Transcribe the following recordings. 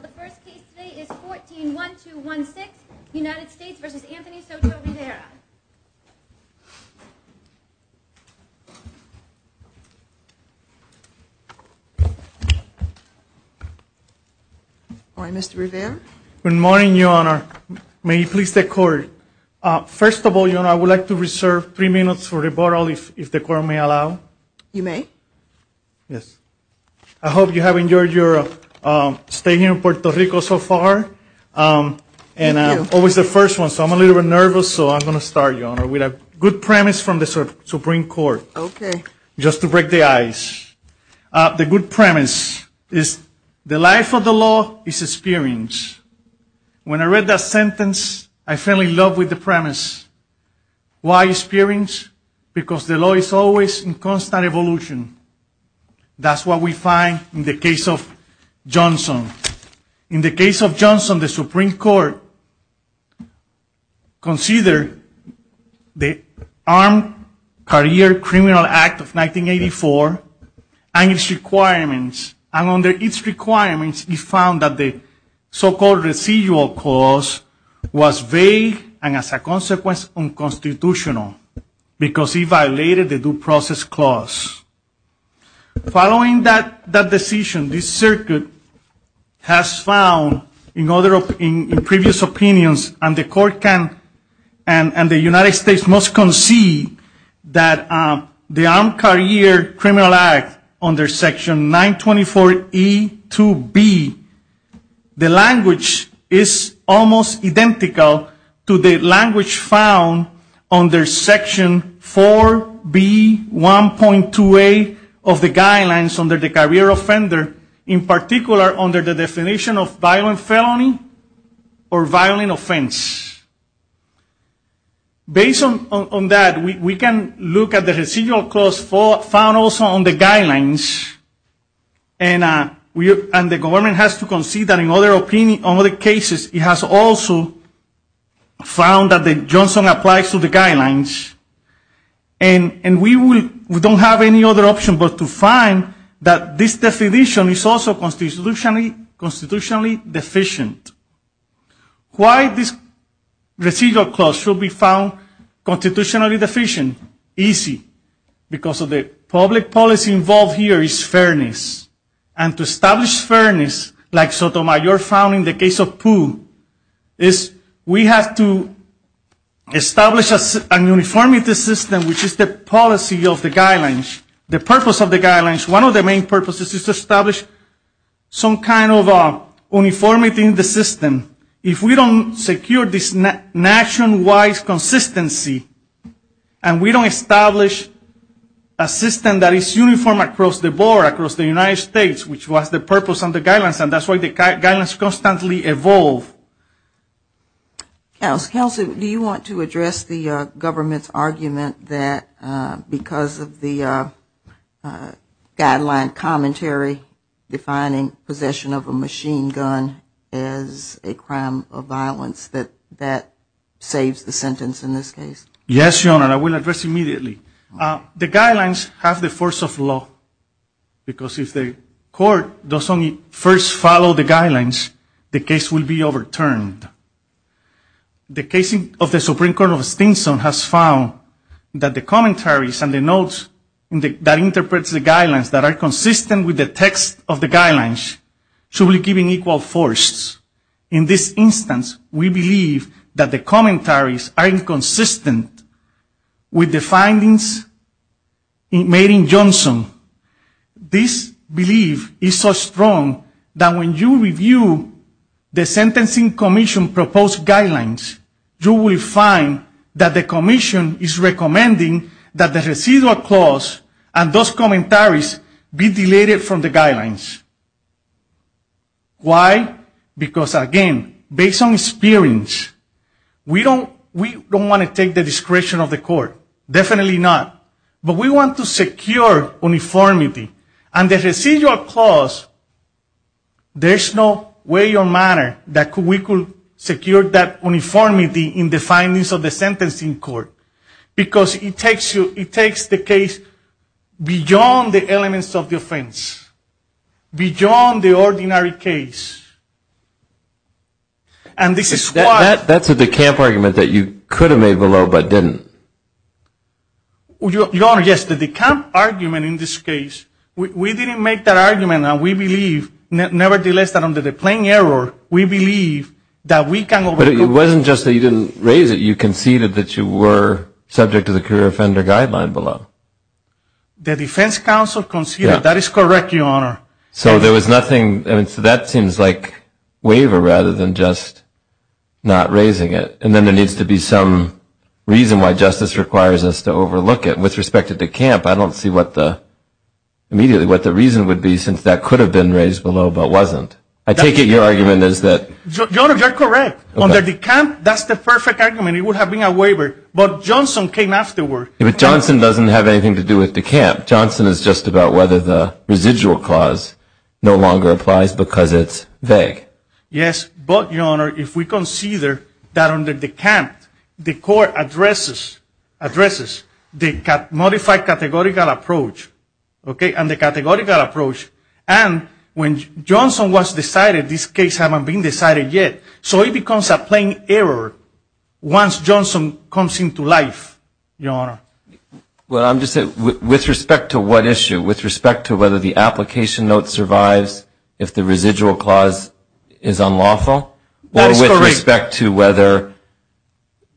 The first case today is 14-1216, United States v. Anthony Soto-Rivera. Good morning, Mr. Rivera. Good morning, Your Honor. May you please take order? First of all, Your Honor, I would like to reserve three minutes for rebuttal if the Court may allow. You may. Yes. I hope you have enjoyed your stay here in Puerto Rico so far. Thank you. And I'm always the first one, so I'm a little bit nervous. So I'm going to start, Your Honor, with a good premise from the Supreme Court. Okay. Just to break the ice. The good premise is the life of the law is experience. When I read that sentence, I fell in love with the premise. Why experience? Because the law is always in constant evolution. That's what we find in the case of Johnson. In the case of Johnson, the Supreme Court considered the Armed Career Criminal Act of 1984 and its requirements. And under its requirements, it found that the so-called residual clause was vague and, as a consequence, unconstitutional because it violated the due process clause. Following that decision, the circuit has found in previous opinions, and the United States must concede, that the Armed Career Criminal Act under Section 924E2B, the language is almost identical to the language found under Section 4B1.2A of the guidelines under the career offender, in particular under the definition of violent felony or violent offense. Based on that, we can look at the residual clause found also on the guidelines, and the government has to concede that in other cases, it has also found that Johnson applies to the guidelines. And we don't have any other option but to find that this definition is also constitutionally deficient. Why this residual clause should be found constitutionally deficient? Easy, because of the public policy involved here is fairness. And to establish fairness, like Sotomayor found in the case of Pooh, is we have to establish a uniformity system, which is the policy of the guidelines. The purpose of the guidelines, one of the main purposes is to establish some kind of uniformity in the system. If we don't secure this nationwide consistency, and we don't establish a system that is uniform across the board, across the United States, which was the purpose of the guidelines, and that's why the guidelines constantly evolve. Counsel, do you want to address the government's argument that because of the guideline commentary, defining possession of a machine gun as a crime of violence, that that saves the sentence in this case? Yes, Your Honor, I will address immediately. The guidelines have the force of law, because if the court doesn't first follow the guidelines, the case will be overturned. The case of the Supreme Court of Stinson has found that the commentaries and the notes that interpret the guidelines that are consistent with the text of the guidelines should be given equal force. In this instance, we believe that the commentaries are inconsistent with the findings of the Supreme Court of Stinson. In this instance, in Made in Johnson, this belief is so strong that when you review the sentencing commission proposed guidelines, you will find that the commission is recommending that the residual clause and those commentaries be deleted from the guidelines. Why? Because again, based on experience, we don't want to take the discretion of the court. But we want to secure uniformity, and the residual clause, there's no way or manner that we could secure that uniformity in the findings of the sentencing court, because it takes the case beyond the elements of the offense, beyond the ordinary case. And this is why... That's a decamp argument that you could have made below, but didn't. Your Honor, yes, the decamp argument in this case, we didn't make that argument, and we believe, nevertheless, that under the plain error, we believe that we can overcome... But it wasn't just that you didn't raise it, you conceded that you were subject to the career offender guideline below. The defense counsel conceded, that is correct, Your Honor. So there was nothing, so that seems like waiver, rather than just not raising it. And then there needs to be some reason why justice requires us to overlook it. With respect to decamp, I don't see what the, immediately, what the reason would be, since that could have been raised below, but wasn't. I take it your argument is that... Your Honor, you're correct. Under decamp, that's the perfect argument. It would have been a waiver. But Johnson came afterward. But Johnson doesn't have anything to do with decamp. Johnson is just about whether the residual clause no longer applies because it's vague. Yes, but, Your Honor, if we consider that under decamp, the court addresses the modified categorical approach, okay, and the categorical approach, and when Johnson was decided, this case hasn't been decided yet. So it becomes a plain error once Johnson comes into life, Your Honor. Well, I'm just saying, with respect to what issue? With respect to whether the application note survives if the residual clause is unlawful? That is correct. Or with respect to whether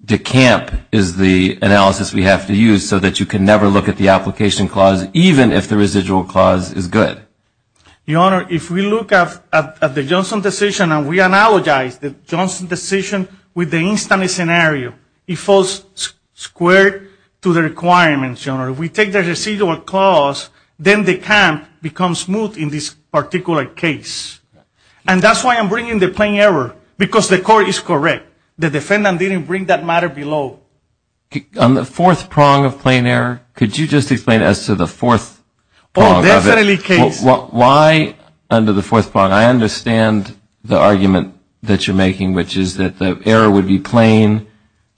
decamp is the analysis we have to use so that you can never look at the application clause, even if the residual clause is good? Your Honor, if we look at the Johnson decision, and we analogize the Johnson decision with the instance scenario, it falls square to the requirements, Your Honor. If we take the residual clause, then decamp becomes smooth in this particular case. And that's why I'm bringing the plain error, because the court is correct. The defendant didn't bring that matter below. On the fourth prong of plain error, could you just explain as to the fourth prong of it? Why under the fourth prong? I understand the argument that you're making, which is that the error would be plain,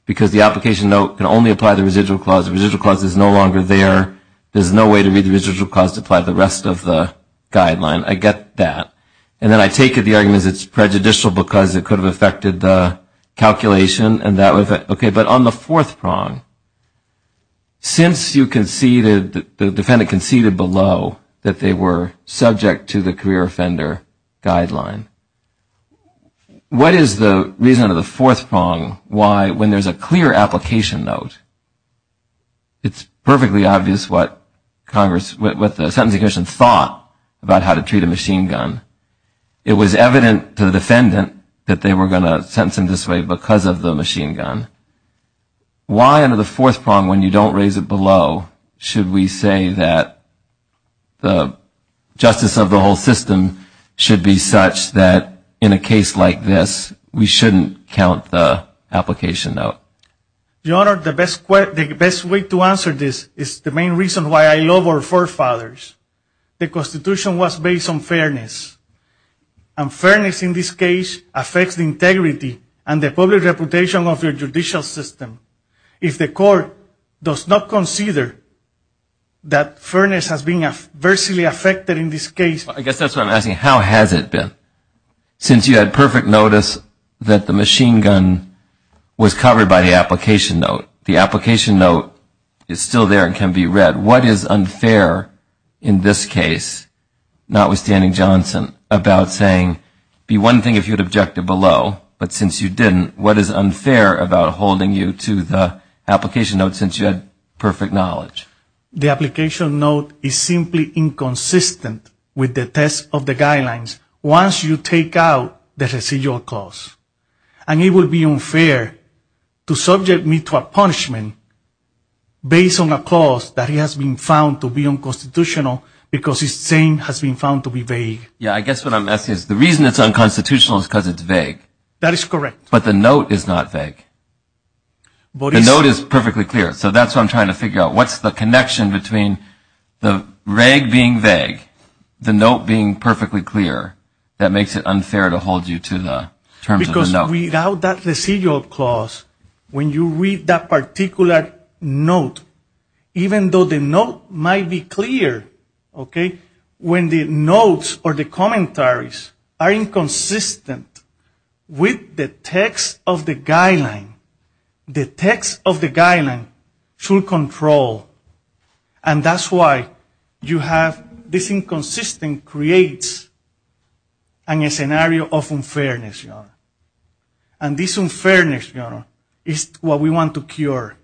because the application note can only apply the residual clause. The residual clause is no longer there. There's no way to read the residual clause to apply the rest of the guideline. I get that. And then I take it the argument is it's prejudicial because it could have affected the calculation. Okay, but on the fourth prong. Since you conceded, the defendant conceded below that they were subject to the career offender guideline. What is the reason of the fourth prong? Why, when there's a clear application note, it's perfectly obvious what the sentencing commission thought about how to treat a machine gun. It was evident to the defendant that they were going to sentence him this way because of the machine gun. Why under the fourth prong, when you don't raise it below, should we say that the justice of the whole system should be such that in a case like this, we shouldn't count the application note? Your Honor, the best way to answer this is the main reason why I love our forefathers. The Constitution was based on fairness. And fairness in this case affects the integrity and the public reputation of your judicial system. If the court does not consider that fairness has been adversely affected in this case. I guess that's what I'm asking, how has it been? Since you had perfect notice that the machine gun was covered by the application note, the application note is still there and can be read. What is unfair in this case, notwithstanding Johnson? What is unfair about saying be one thing if you had objected below, but since you didn't, what is unfair about holding you to the application note since you had perfect knowledge? The application note is simply inconsistent with the test of the guidelines once you take out the residual cause. And it would be unfair to subject me to a punishment based on a cause that has been found to be unconstitutional because it's saying has been found to be vague. I guess what I'm asking is the reason it's unconstitutional is because it's vague. That is correct. But the note is not vague. The note is perfectly clear. So that's what I'm trying to figure out. What's the connection between the reg being vague, the note being perfectly clear, that makes it unfair to hold you to the terms of the note? Because without that residual clause, when you read that particular note, even though the note might be clear, okay, when the notes or the commentaries are inconsistent with the text of the guideline, the text of the guideline should control. And that's why you have this inconsistent creates a scenario of unfairness. And this unfairness is what we want to cure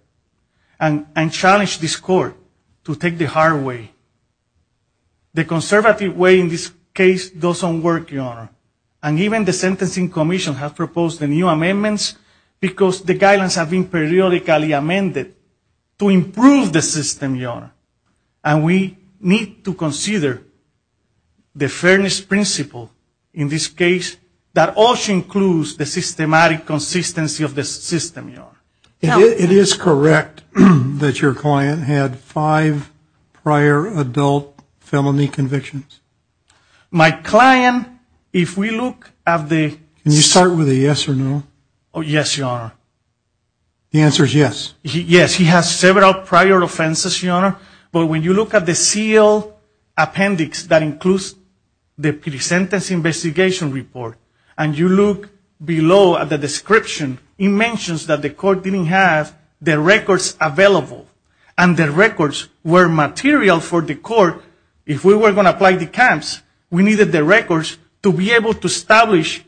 and challenge this court to take the hard way. And the conservative way in this case doesn't work, Your Honor. And even the sentencing commission has proposed new amendments because the guidelines have been periodically amended to improve the system, Your Honor. And we need to consider the fairness principle in this case that also includes the systematic consistency of the system, Your Honor. It is correct that your client had five prior adult felony convictions. My client, if we look at the... Can you start with a yes or no? Yes, Your Honor. The answer is yes. Yes, he has several prior offenses, Your Honor. But when you look at the seal appendix that includes the pre-sentence investigation report, and you look below at the description, it mentions that the court didn't have the records available. And the records were material for the court. If we were going to apply the CAMS, we needed the records to be able to establish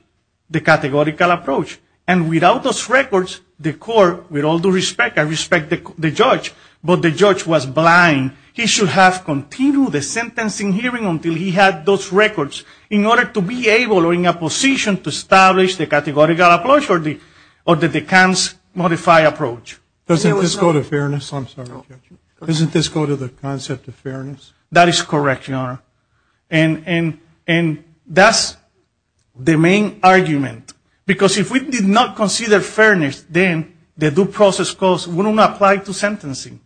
the categorical approach. And without those records, the court, with all due respect, I respect the judge, but the judge was blind. He should have continued the sentencing hearing until he had those records in order to be able or in a position to establish the categorical approach or the CAMS modified approach. Doesn't this go to fairness? That is correct, Your Honor. And that's the main argument. Because if we did not consider fairness, then the due process cost would not apply to sentencing.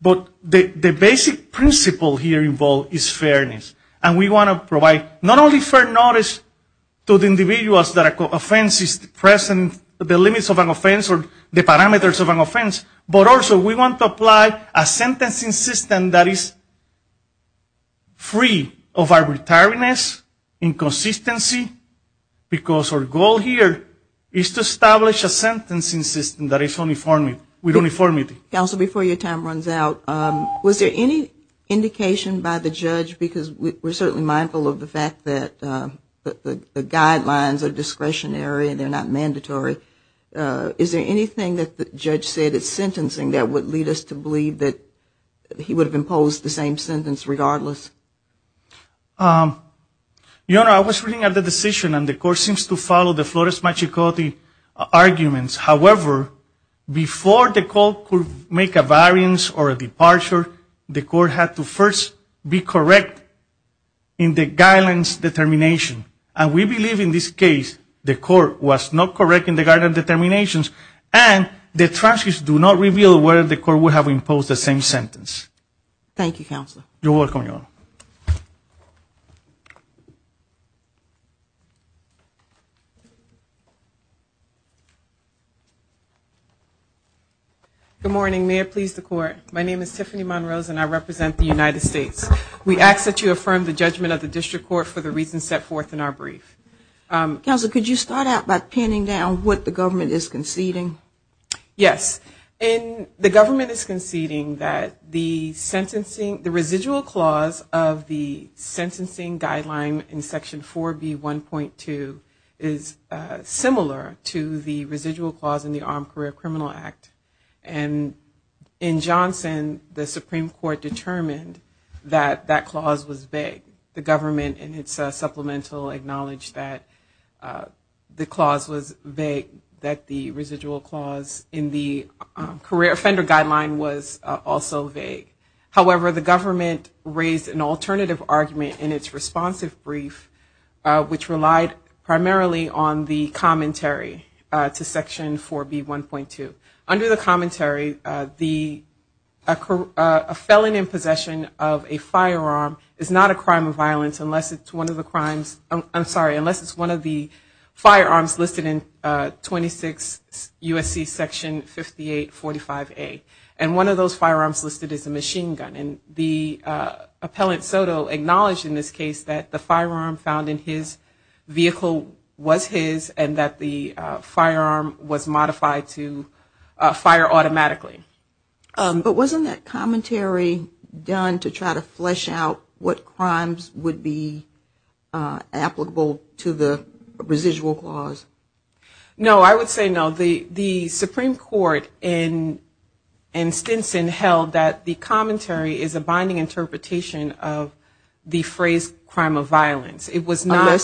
But the basic principle here involved is fairness. And we want to provide not only fair notice to the individuals that an offense is present, the limits of an offense or the parameters of an offense, but also we want to provide a fair judgment. We want to provide a sentencing system that is free of arbitrariness, inconsistency, because our goal here is to establish a sentencing system that is with uniformity. Counsel, before your time runs out, was there any indication by the judge, because we're certainly mindful of the fact that the guidelines are discretionary and they're not mandatory. Is there anything that the judge said at sentencing that would lead us to believe that he would have imposed the same sentence regardless? Your Honor, I was reading out the decision and the court seems to follow the Flores-Machicoti arguments. However, before the court could make a variance or a departure, the court had to first be correct in the guidelines determination. And we believe in this case the court was not correct in the guidelines determinations and the transcripts do not reveal whether the court would have imposed the same sentence. Thank you, Counsel. Good morning. May it please the court. My name is Tiffany Monrose and I represent the United States. We ask that you affirm the judgment of the district court for the reasons set forth in our brief. Counsel, could you start out by pinning down what the government is conceding? Yes. The government is conceding that the sentencing, the residual clause of the sentencing guideline in section 4B1.2 is similar to the residual clause in the Armed Career Criminal Act. And in Johnson, the Supreme Court determined that that clause was vague. The government in its supplemental acknowledged that the clause was vague, that the residual clause in the career offender guideline was also vague. However, the government raised an alternative argument in its responsive brief, which relied primarily on the commentary to section 4B1.2. Under the commentary, a felon in possession of a firearm is not a crime of violence unless it's one of the firearms listed in 26 U.S.C. section 5845A. And one of those firearms listed is a machine gun. And the appellant Soto acknowledged in this case that the firearm found in his vehicle was his and that the firearm was modified to fire a machine gun. But wasn't that commentary done to try to flesh out what crimes would be applicable to the residual clause? No, I would say no. The Supreme Court in Stinson held that the commentary is a binding interpretation of the phrase crime of violence. It was not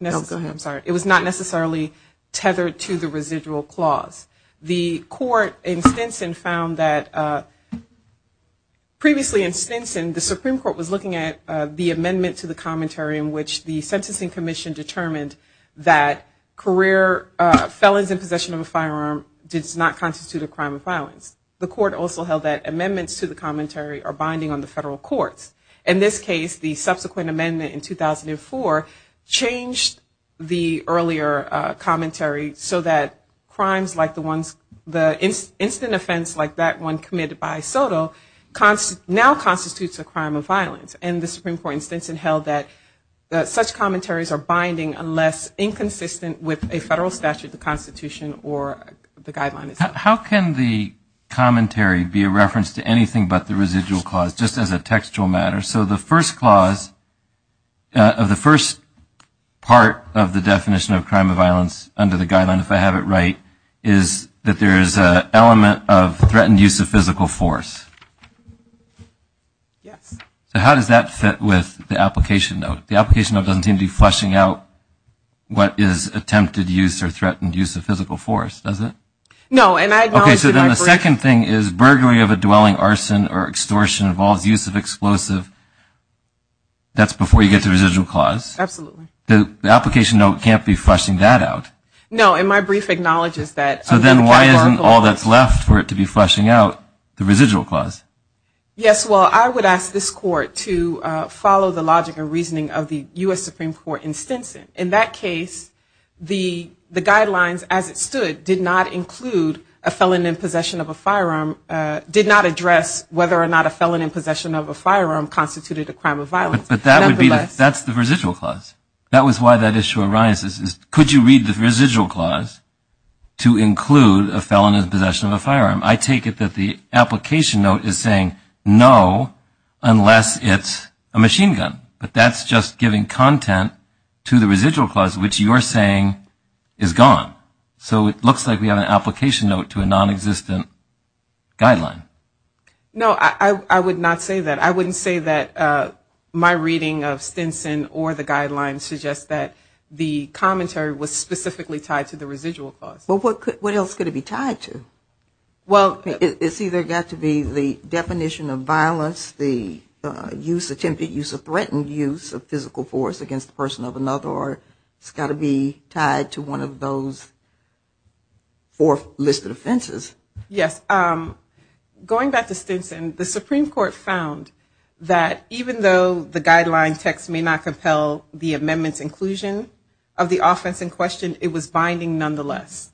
necessarily tethered to the residual clause. The court in Stinson found that previously in Stinson, the Supreme Court was looking at the amendment to the commentary in which the sentencing commission determined that career felons in possession of a firearm did not constitute a crime of violence. The court also held that amendments to the commentary are binding on the federal courts. In this case, the subsequent amendment in 2004 changed the earlier commentary so that crimes like this were not a crime of violence. The incident offense like that one committed by Soto now constitutes a crime of violence. And the Supreme Court in Stinson held that such commentaries are binding unless inconsistent with a federal statute, the Constitution, or the guidelines. How can the commentary be a reference to anything but the residual clause, just as a textual matter? So the first clause of the first part of the definition of crime of violence under the guideline, if I have it right, is the element of threatened use of physical force. So how does that fit with the application note? The application note doesn't seem to be fleshing out what is attempted use or threatened use of physical force, does it? Okay, so then the second thing is burglary of a dwelling, arson, or extortion involves use of explosive. That's before you get to the residual clause. The application note can't be fleshing that out. No, and my brief acknowledges that. So then why isn't all that's left for it to be fleshing out the residual clause? Yes, well, I would ask this court to follow the logic and reasoning of the U.S. Supreme Court in Stinson. In that case, the guidelines as it stood did not include a felon in possession of a firearm, did not address whether or not a felon in possession of a firearm constituted a crime of violence. But that's the residual clause. That was why that issue arises. Could you read the residual clause to include a felon in possession of a firearm? I take it that the application note is saying no, unless it's a machine gun. But that's just giving content to the residual clause, which you're saying is gone. So it looks like we have an application note to a nonexistent guideline. No, I would not say that. I wouldn't say that my reading of Stinson or the guidelines suggest that the commentary was specifically tied to the residual clause. Well, what else could it be tied to? Well, it's either got to be the definition of violence, the use, attempted use or threatened use of physical force against the person of another, or it's got to be tied to one of those four listed offenses. Yes. Going back to Stinson, the Supreme Court found that even though the guideline text may not compel the amendment's inclusion of the offense in question, it was binding nonetheless.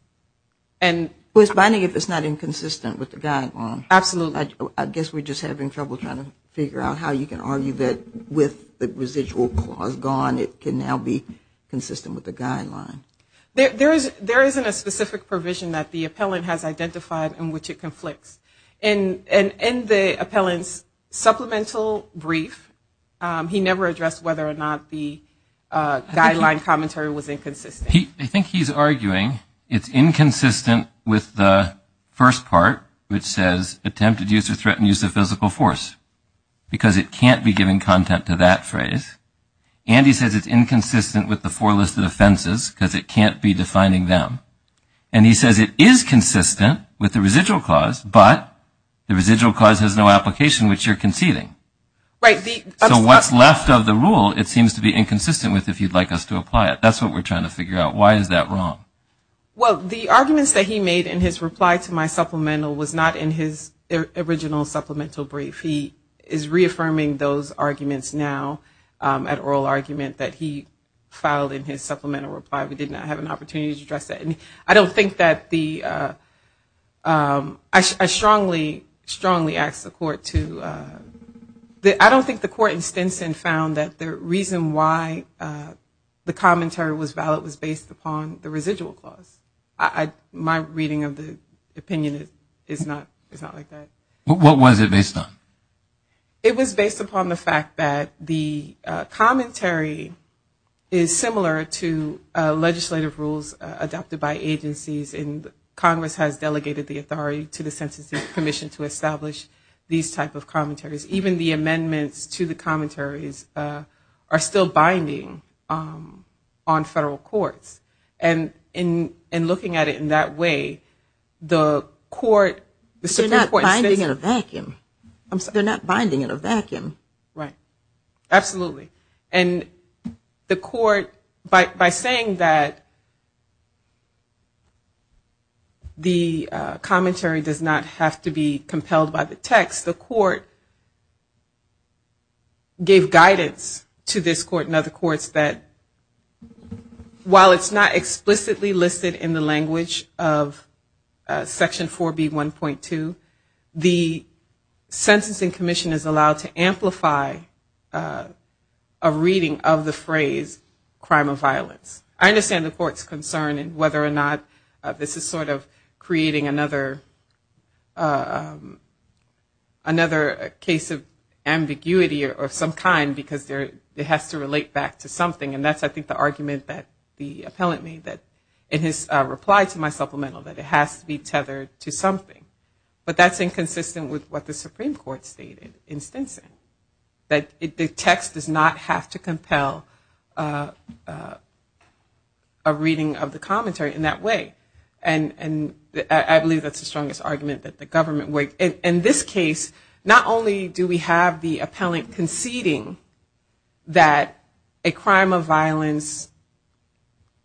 Well, it's binding if it's not inconsistent with the guideline. Absolutely. I guess we're just having trouble trying to figure out how you can argue that with the residual clause gone, it can now be consistent with the guideline. There isn't a specific provision that the appellant has identified in which it conflicts. In the appellant's supplemental brief, he never addressed whether or not the guideline commentary was inconsistent. I think he's arguing it's inconsistent with the first part, which says attempted use or threatened use of physical force, because it can't be given content to that phrase. And he says it's inconsistent with the four listed offenses, because it can't be defining them. And he says it is consistent with the residual clause, but the residual clause has no application, which you're conceding. Right. So what's left of the rule, it seems to be inconsistent with if you'd like us to apply it. That's what we're trying to figure out. Why is that wrong? Well, the arguments that he made in his reply to my supplemental was not in his original supplemental brief. He is reaffirming those arguments now at oral argument that he filed in his supplemental reply. We did not have an opportunity to address that. I don't think that the ‑‑ I strongly ask the court to ‑‑ I don't think the court in Stinson found that the reason why the commentary was valid was based upon the residual clause. My reading of the opinion is not like that. What was it based on? It was based upon the fact that the commentary is similar to legislative rules adopted by agencies. And Congress has delegated the authority to the Sentencing Commission to establish these type of commentaries. Even the amendments to the commentaries are still binding on federal courts. And in looking at it in that way, the court ‑‑ They're not binding in a vacuum. They're not binding in a vacuum. Right. Absolutely. And the court, by saying that the commentary does not have to be compelled by the text, the court gave guidance to this court and other courts that while it's not explicitly listed in the language of Section 4B1.2, the Sentencing Commission is allowed to amplify a reading of the phrase crime of violence. I understand the court's concern in whether or not this is sort of creating another case of ambiguity of some kind because it has to relate back to something. And that's I think the argument that the appellant made in his reply to my supplemental, that it has to be tethered to something. But that's inconsistent with what the Supreme Court stated in Stinson. That the text does not have to compel a reading of the commentary in that way. And I believe that's the strongest argument that the government ‑‑ In this case, not only do we have the appellant conceding that a crime of violence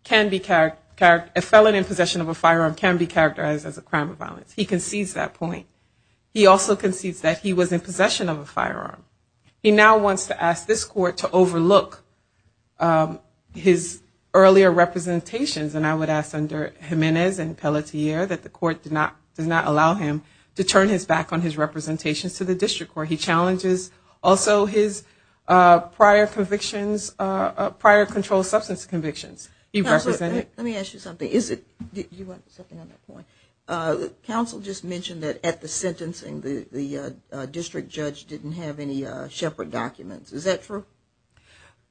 can be ‑‑ A felon in possession of a firearm can be characterized as a crime of violence. He concedes that point. He also concedes that he was in possession of a firearm. He now wants to ask this court to overlook his earlier representations. And I would ask under Jimenez and Pelletier that the court does not allow him to turn his back on his representations to the district court. He challenges also his prior convictions, prior controlled substance convictions. Let me ask you something. Council just mentioned that at the sentencing, the district judge didn't have any Shepard documents. Is that true?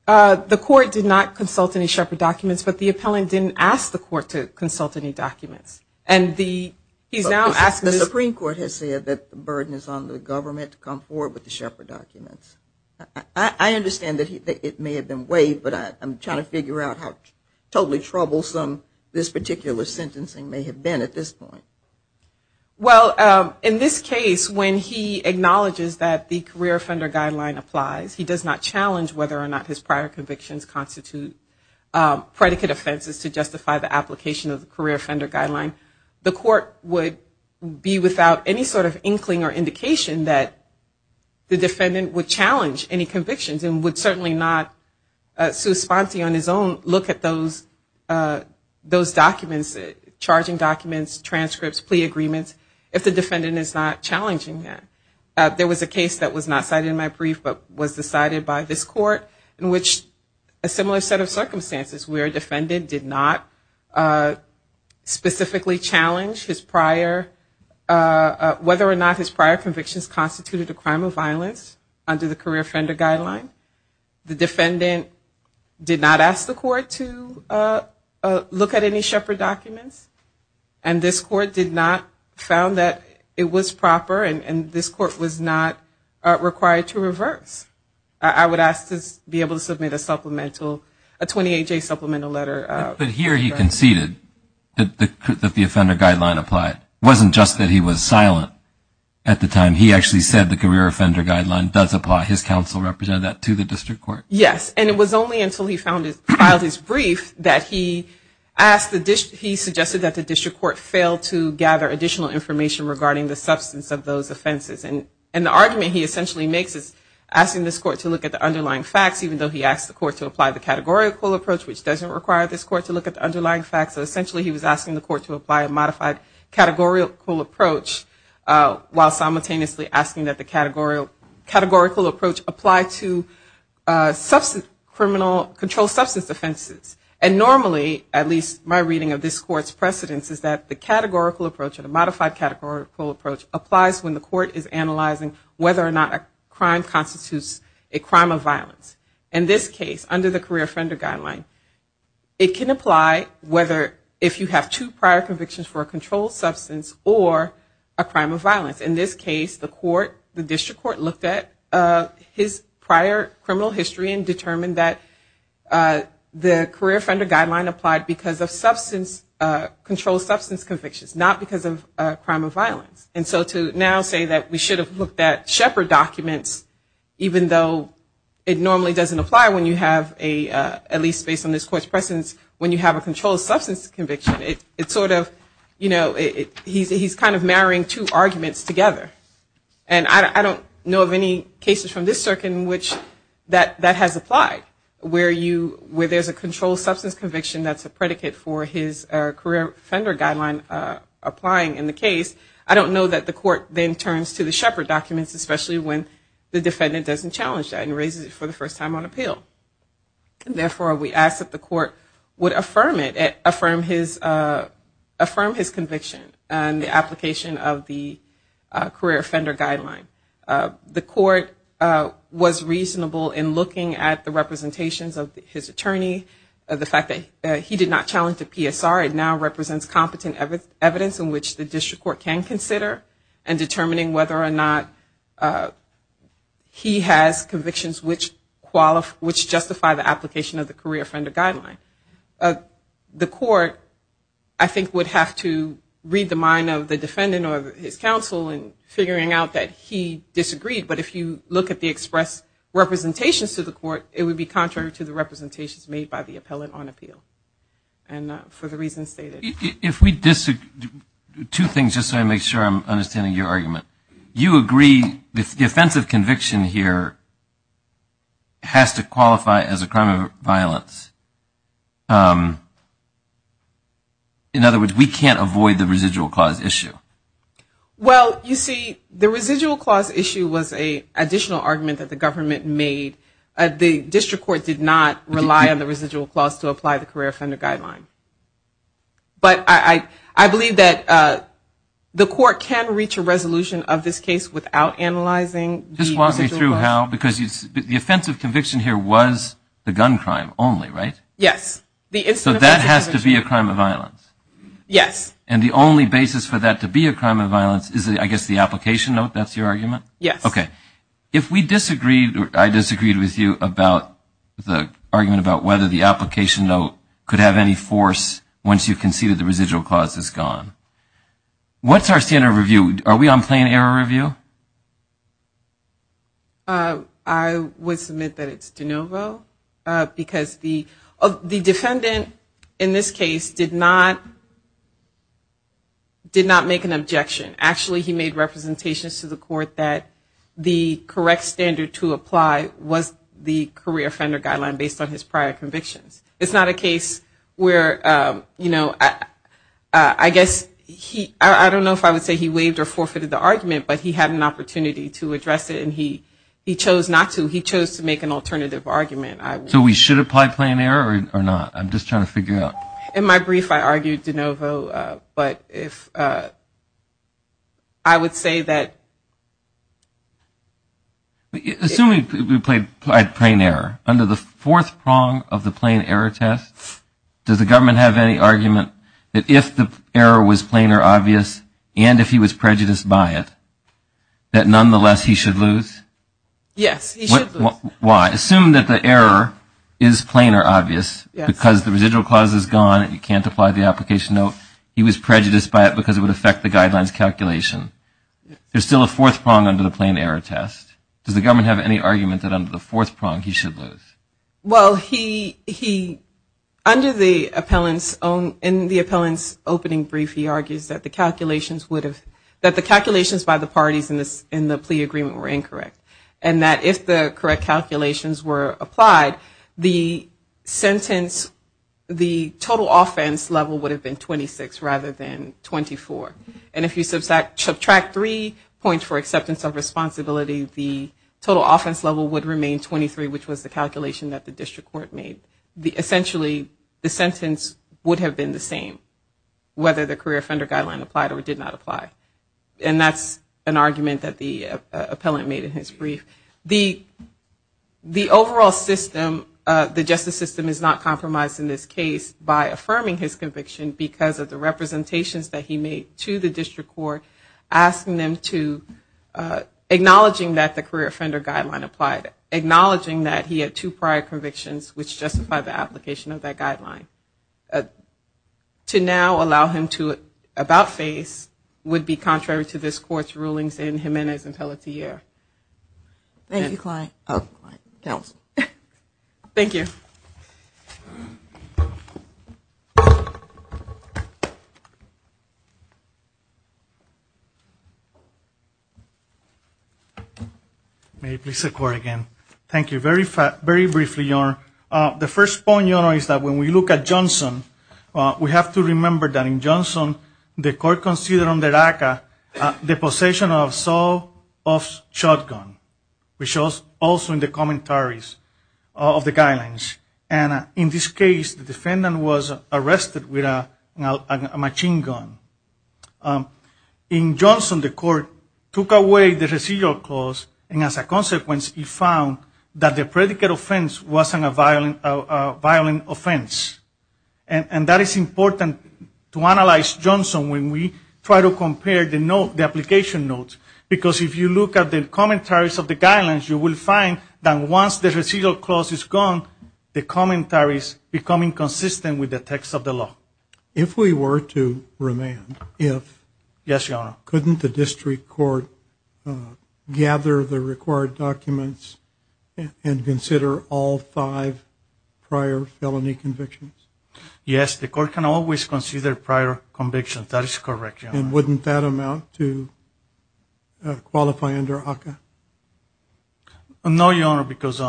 The court did not consult any Shepard documents, but the appellant didn't ask the court to consult any documents. The Supreme Court has said that the burden is on the government to come forward with the Shepard documents. I understand that it may have been waived, but I'm trying to figure out how totally troublesome this petition is. I don't know where this particular sentencing may have been at this point. Well, in this case, when he acknowledges that the career offender guideline applies, he does not challenge whether or not his prior convictions constitute predicate offenses to justify the application of the career offender guideline. The court would be without any sort of inkling or indication that the defendant would challenge any convictions and would certainly not, sui sponte on his own, look at those documents. Charging documents, transcripts, plea agreements, if the defendant is not challenging that. There was a case that was not cited in my brief but was decided by this court in which a similar set of circumstances where a defendant did not specifically challenge whether or not his prior convictions constituted a crime of violence under the career offender guideline. The defendant did not ask the court to look at any Shepard documents. And this court did not found that it was proper and this court was not required to reverse. I would ask to be able to submit a supplemental, a 28-J supplemental letter. But here he conceded that the offender guideline applied. It wasn't just that he was silent at the time. He actually said the career offender guideline does apply. His counsel represented that to the district court? Yes. And it was only until he filed his brief that he suggested that the district court fail to gather additional information regarding the substance of those offenses. And the argument he essentially makes is asking this court to look at the underlying facts even though he asked the court to apply the categorical approach which doesn't require this court to look at the underlying facts. So essentially he was asking the court to apply a modified categorical approach while simultaneously asking that the categorical approach apply to substantial offenses. And normally, at least my reading of this court's precedence, is that the categorical approach and the modified categorical approach applies when the court is analyzing whether or not a crime constitutes a crime of violence. In this case, under the career offender guideline, it can apply whether if you have two prior convictions for a controlled substance or a crime of violence. In this case, the court, the district court looked at his prior criminal history and did not look at the underlying facts. And so to now say that we should have looked at Shepard documents even though it normally doesn't apply when you have a, at least based on this court's precedence, when you have a controlled substance conviction, it's sort of, you know, he's kind of marrying two arguments together. And I don't know of any cases from this circuit in which that has applied. Where you, where there's a controlled substance conviction that's a predicate for his career offender guideline applying in the case, I don't know that the court then turns to the Shepard documents, especially when the defendant doesn't challenge that and raises it for the first time on appeal. And therefore, we ask that the court would affirm it, affirm his, affirm his conviction and the application of the career offender guideline. The court was reasonable in looking at the representations of his attorney, the fact that he did not challenge the PSR. It now represents competent evidence in which the district court can consider in determining whether or not he has convictions which qualify, which justify the application of the career offender guideline. The court, I think would have to read the mind of the defendant or his counsel in figuring out that he has a, he has a career offender guideline. And if he disagreed, but if you look at the express representations to the court, it would be contrary to the representations made by the appellant on appeal. And for the reasons stated. If we disagree, two things, just so I make sure I'm understanding your argument. You agree the offense of conviction here has to qualify as a crime of violence. In other words, we can't avoid the residual clause issue. Well, you see, the residual clause issue was an additional argument that the government made. The district court did not rely on the residual clause to apply the career offender guideline. But I believe that the court can reach a resolution of this case without analyzing the residual clause. Just walk me through how, because the offense of conviction here was the gun crime only, right? Yes. So that has to be a crime of violence. Yes. And the only basis for that to be a crime of violence is, I guess, the application note, that's your argument? Yes. Okay. If we disagreed, or I disagreed with you about the argument about whether the application note could have any force once you conceded the residual clause is gone. What's our standard review? Are we on plan error review? I would submit that it's de novo. Because the defendant in this case did not make an objection. Actually, he made representations to the court that the correct standard to apply was the career offender guideline based on his prior convictions. It's not a case where, you know, I guess, I don't know if I would say he waived or not. I would say he either forfeited the argument, but he had an opportunity to address it, and he chose not to. He chose to make an alternative argument. So we should apply plan error or not? I'm just trying to figure it out. In my brief, I argued de novo, but I would say that... Assuming we applied plan error, under the fourth prong of the plan error test, does the government have any argument that if the error was plan or obvious, and if he was prejudiced by it, that nonetheless he should lose? Yes, he should lose. Why? Assume that the error is plan or obvious because the residual clause is gone and you can't apply the application. No, he was prejudiced by it because it would affect the guidelines calculation. There's still a fourth prong under the plan error test. Does the government have any argument that under the fourth prong he should lose? Well, under the appellant's own... In the appellant's opening brief, he argues that the calculations would have... That the calculations by the parties in the plea agreement were incorrect. And that if the correct calculations were applied, the sentence... The total offense level would have been 26 rather than 24. And if you subtract three points for acceptance of responsibility, the total offense level would remain 23, which was the calculation that the district court made. Essentially, the sentence would have been the same, whether the career offender guideline applied or did not apply. And that's an argument that the appellant made in his brief. The overall system, the justice system, is not compromised in this case by affirming his conviction because of the representations that he made to the district court, asking them to... Acknowledging that the career offender guideline applied. Acknowledging that he had two prior convictions which justified the application of that guideline. To now allow him to about-face would be contrary to this court's rulings in Jimenez and Pelletier. Thank you. Thank you. Thank you. May it please the court again. Thank you. Very briefly, Your Honor. The first point, Your Honor, is that when we look at Johnson, we have to remember that in Johnson, the court considered under ACCA the possession of Saul Off's shotgun, which was also in the commentaries of the guidelines. And in this case, the defendant was arrested with a machine gun. In Johnson, the court took away the residual clause, and as a consequence, it found that the predicate offense wasn't a violent offense. And that is important to analyze Johnson when we try to compare the application notes because if you look at the commentaries of the guidelines, you will find that once the residual clause is gone, the commentaries become inconsistent with the text of the law. If we were to remand, if, couldn't the district court gather the required documents and consider all five prior felony convictions? Yes, the court can always consider prior convictions. That is correct, Your Honor. And wouldn't that amount to qualify under ACCA? No, Your Honor, because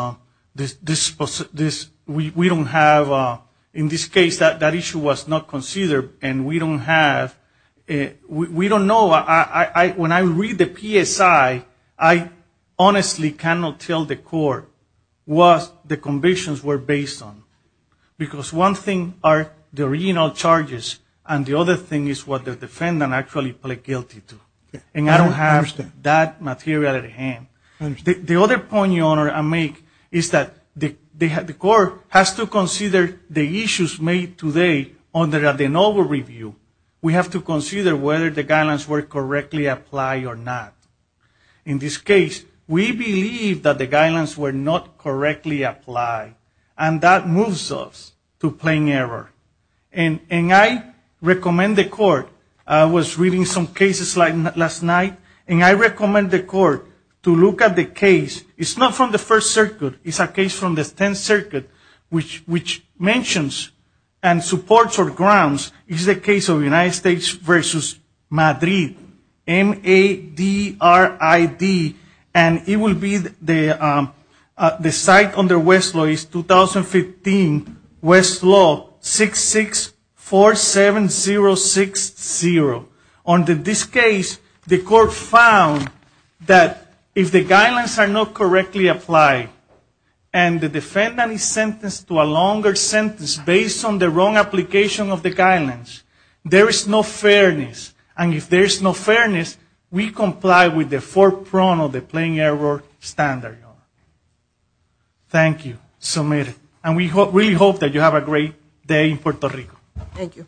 we don't have, in this case, that issue was not considered, and we don't have, we don't know, when I read the PSI, I honestly cannot tell the court what the convictions were based on. Because one thing are the original charges, and the other thing is what the defendant actually pled guilty to. And I don't have that material at hand. The other point Your Honor, I make, is that the court has to consider the issues made today under the novel review. We have to consider whether the guidelines were correctly applied or not. In this case, we believe that the guidelines were not correctly applied, and that moves us to plain error. And I recommend the court, I was reading some cases last night, and I recommend the court to look at the case, it's not from the First Circuit, it's a case from the Tenth Circuit, which mentions and supports or grounds is the case of United States v. Madrid. M-A-D-R-I-D, and it will be the site under Westlaw is 2015 Westlaw 6647060. Under this case, the court found that if the guidelines are not correctly applied and the defendant is sentenced to a longer sentence based on the wrong application of the guidelines, there is no fairness. And if there is no fairness, we comply with the four prongs of the plain error standard. Thank you. And we really hope that you have a great day in Puerto Rico. Thank you.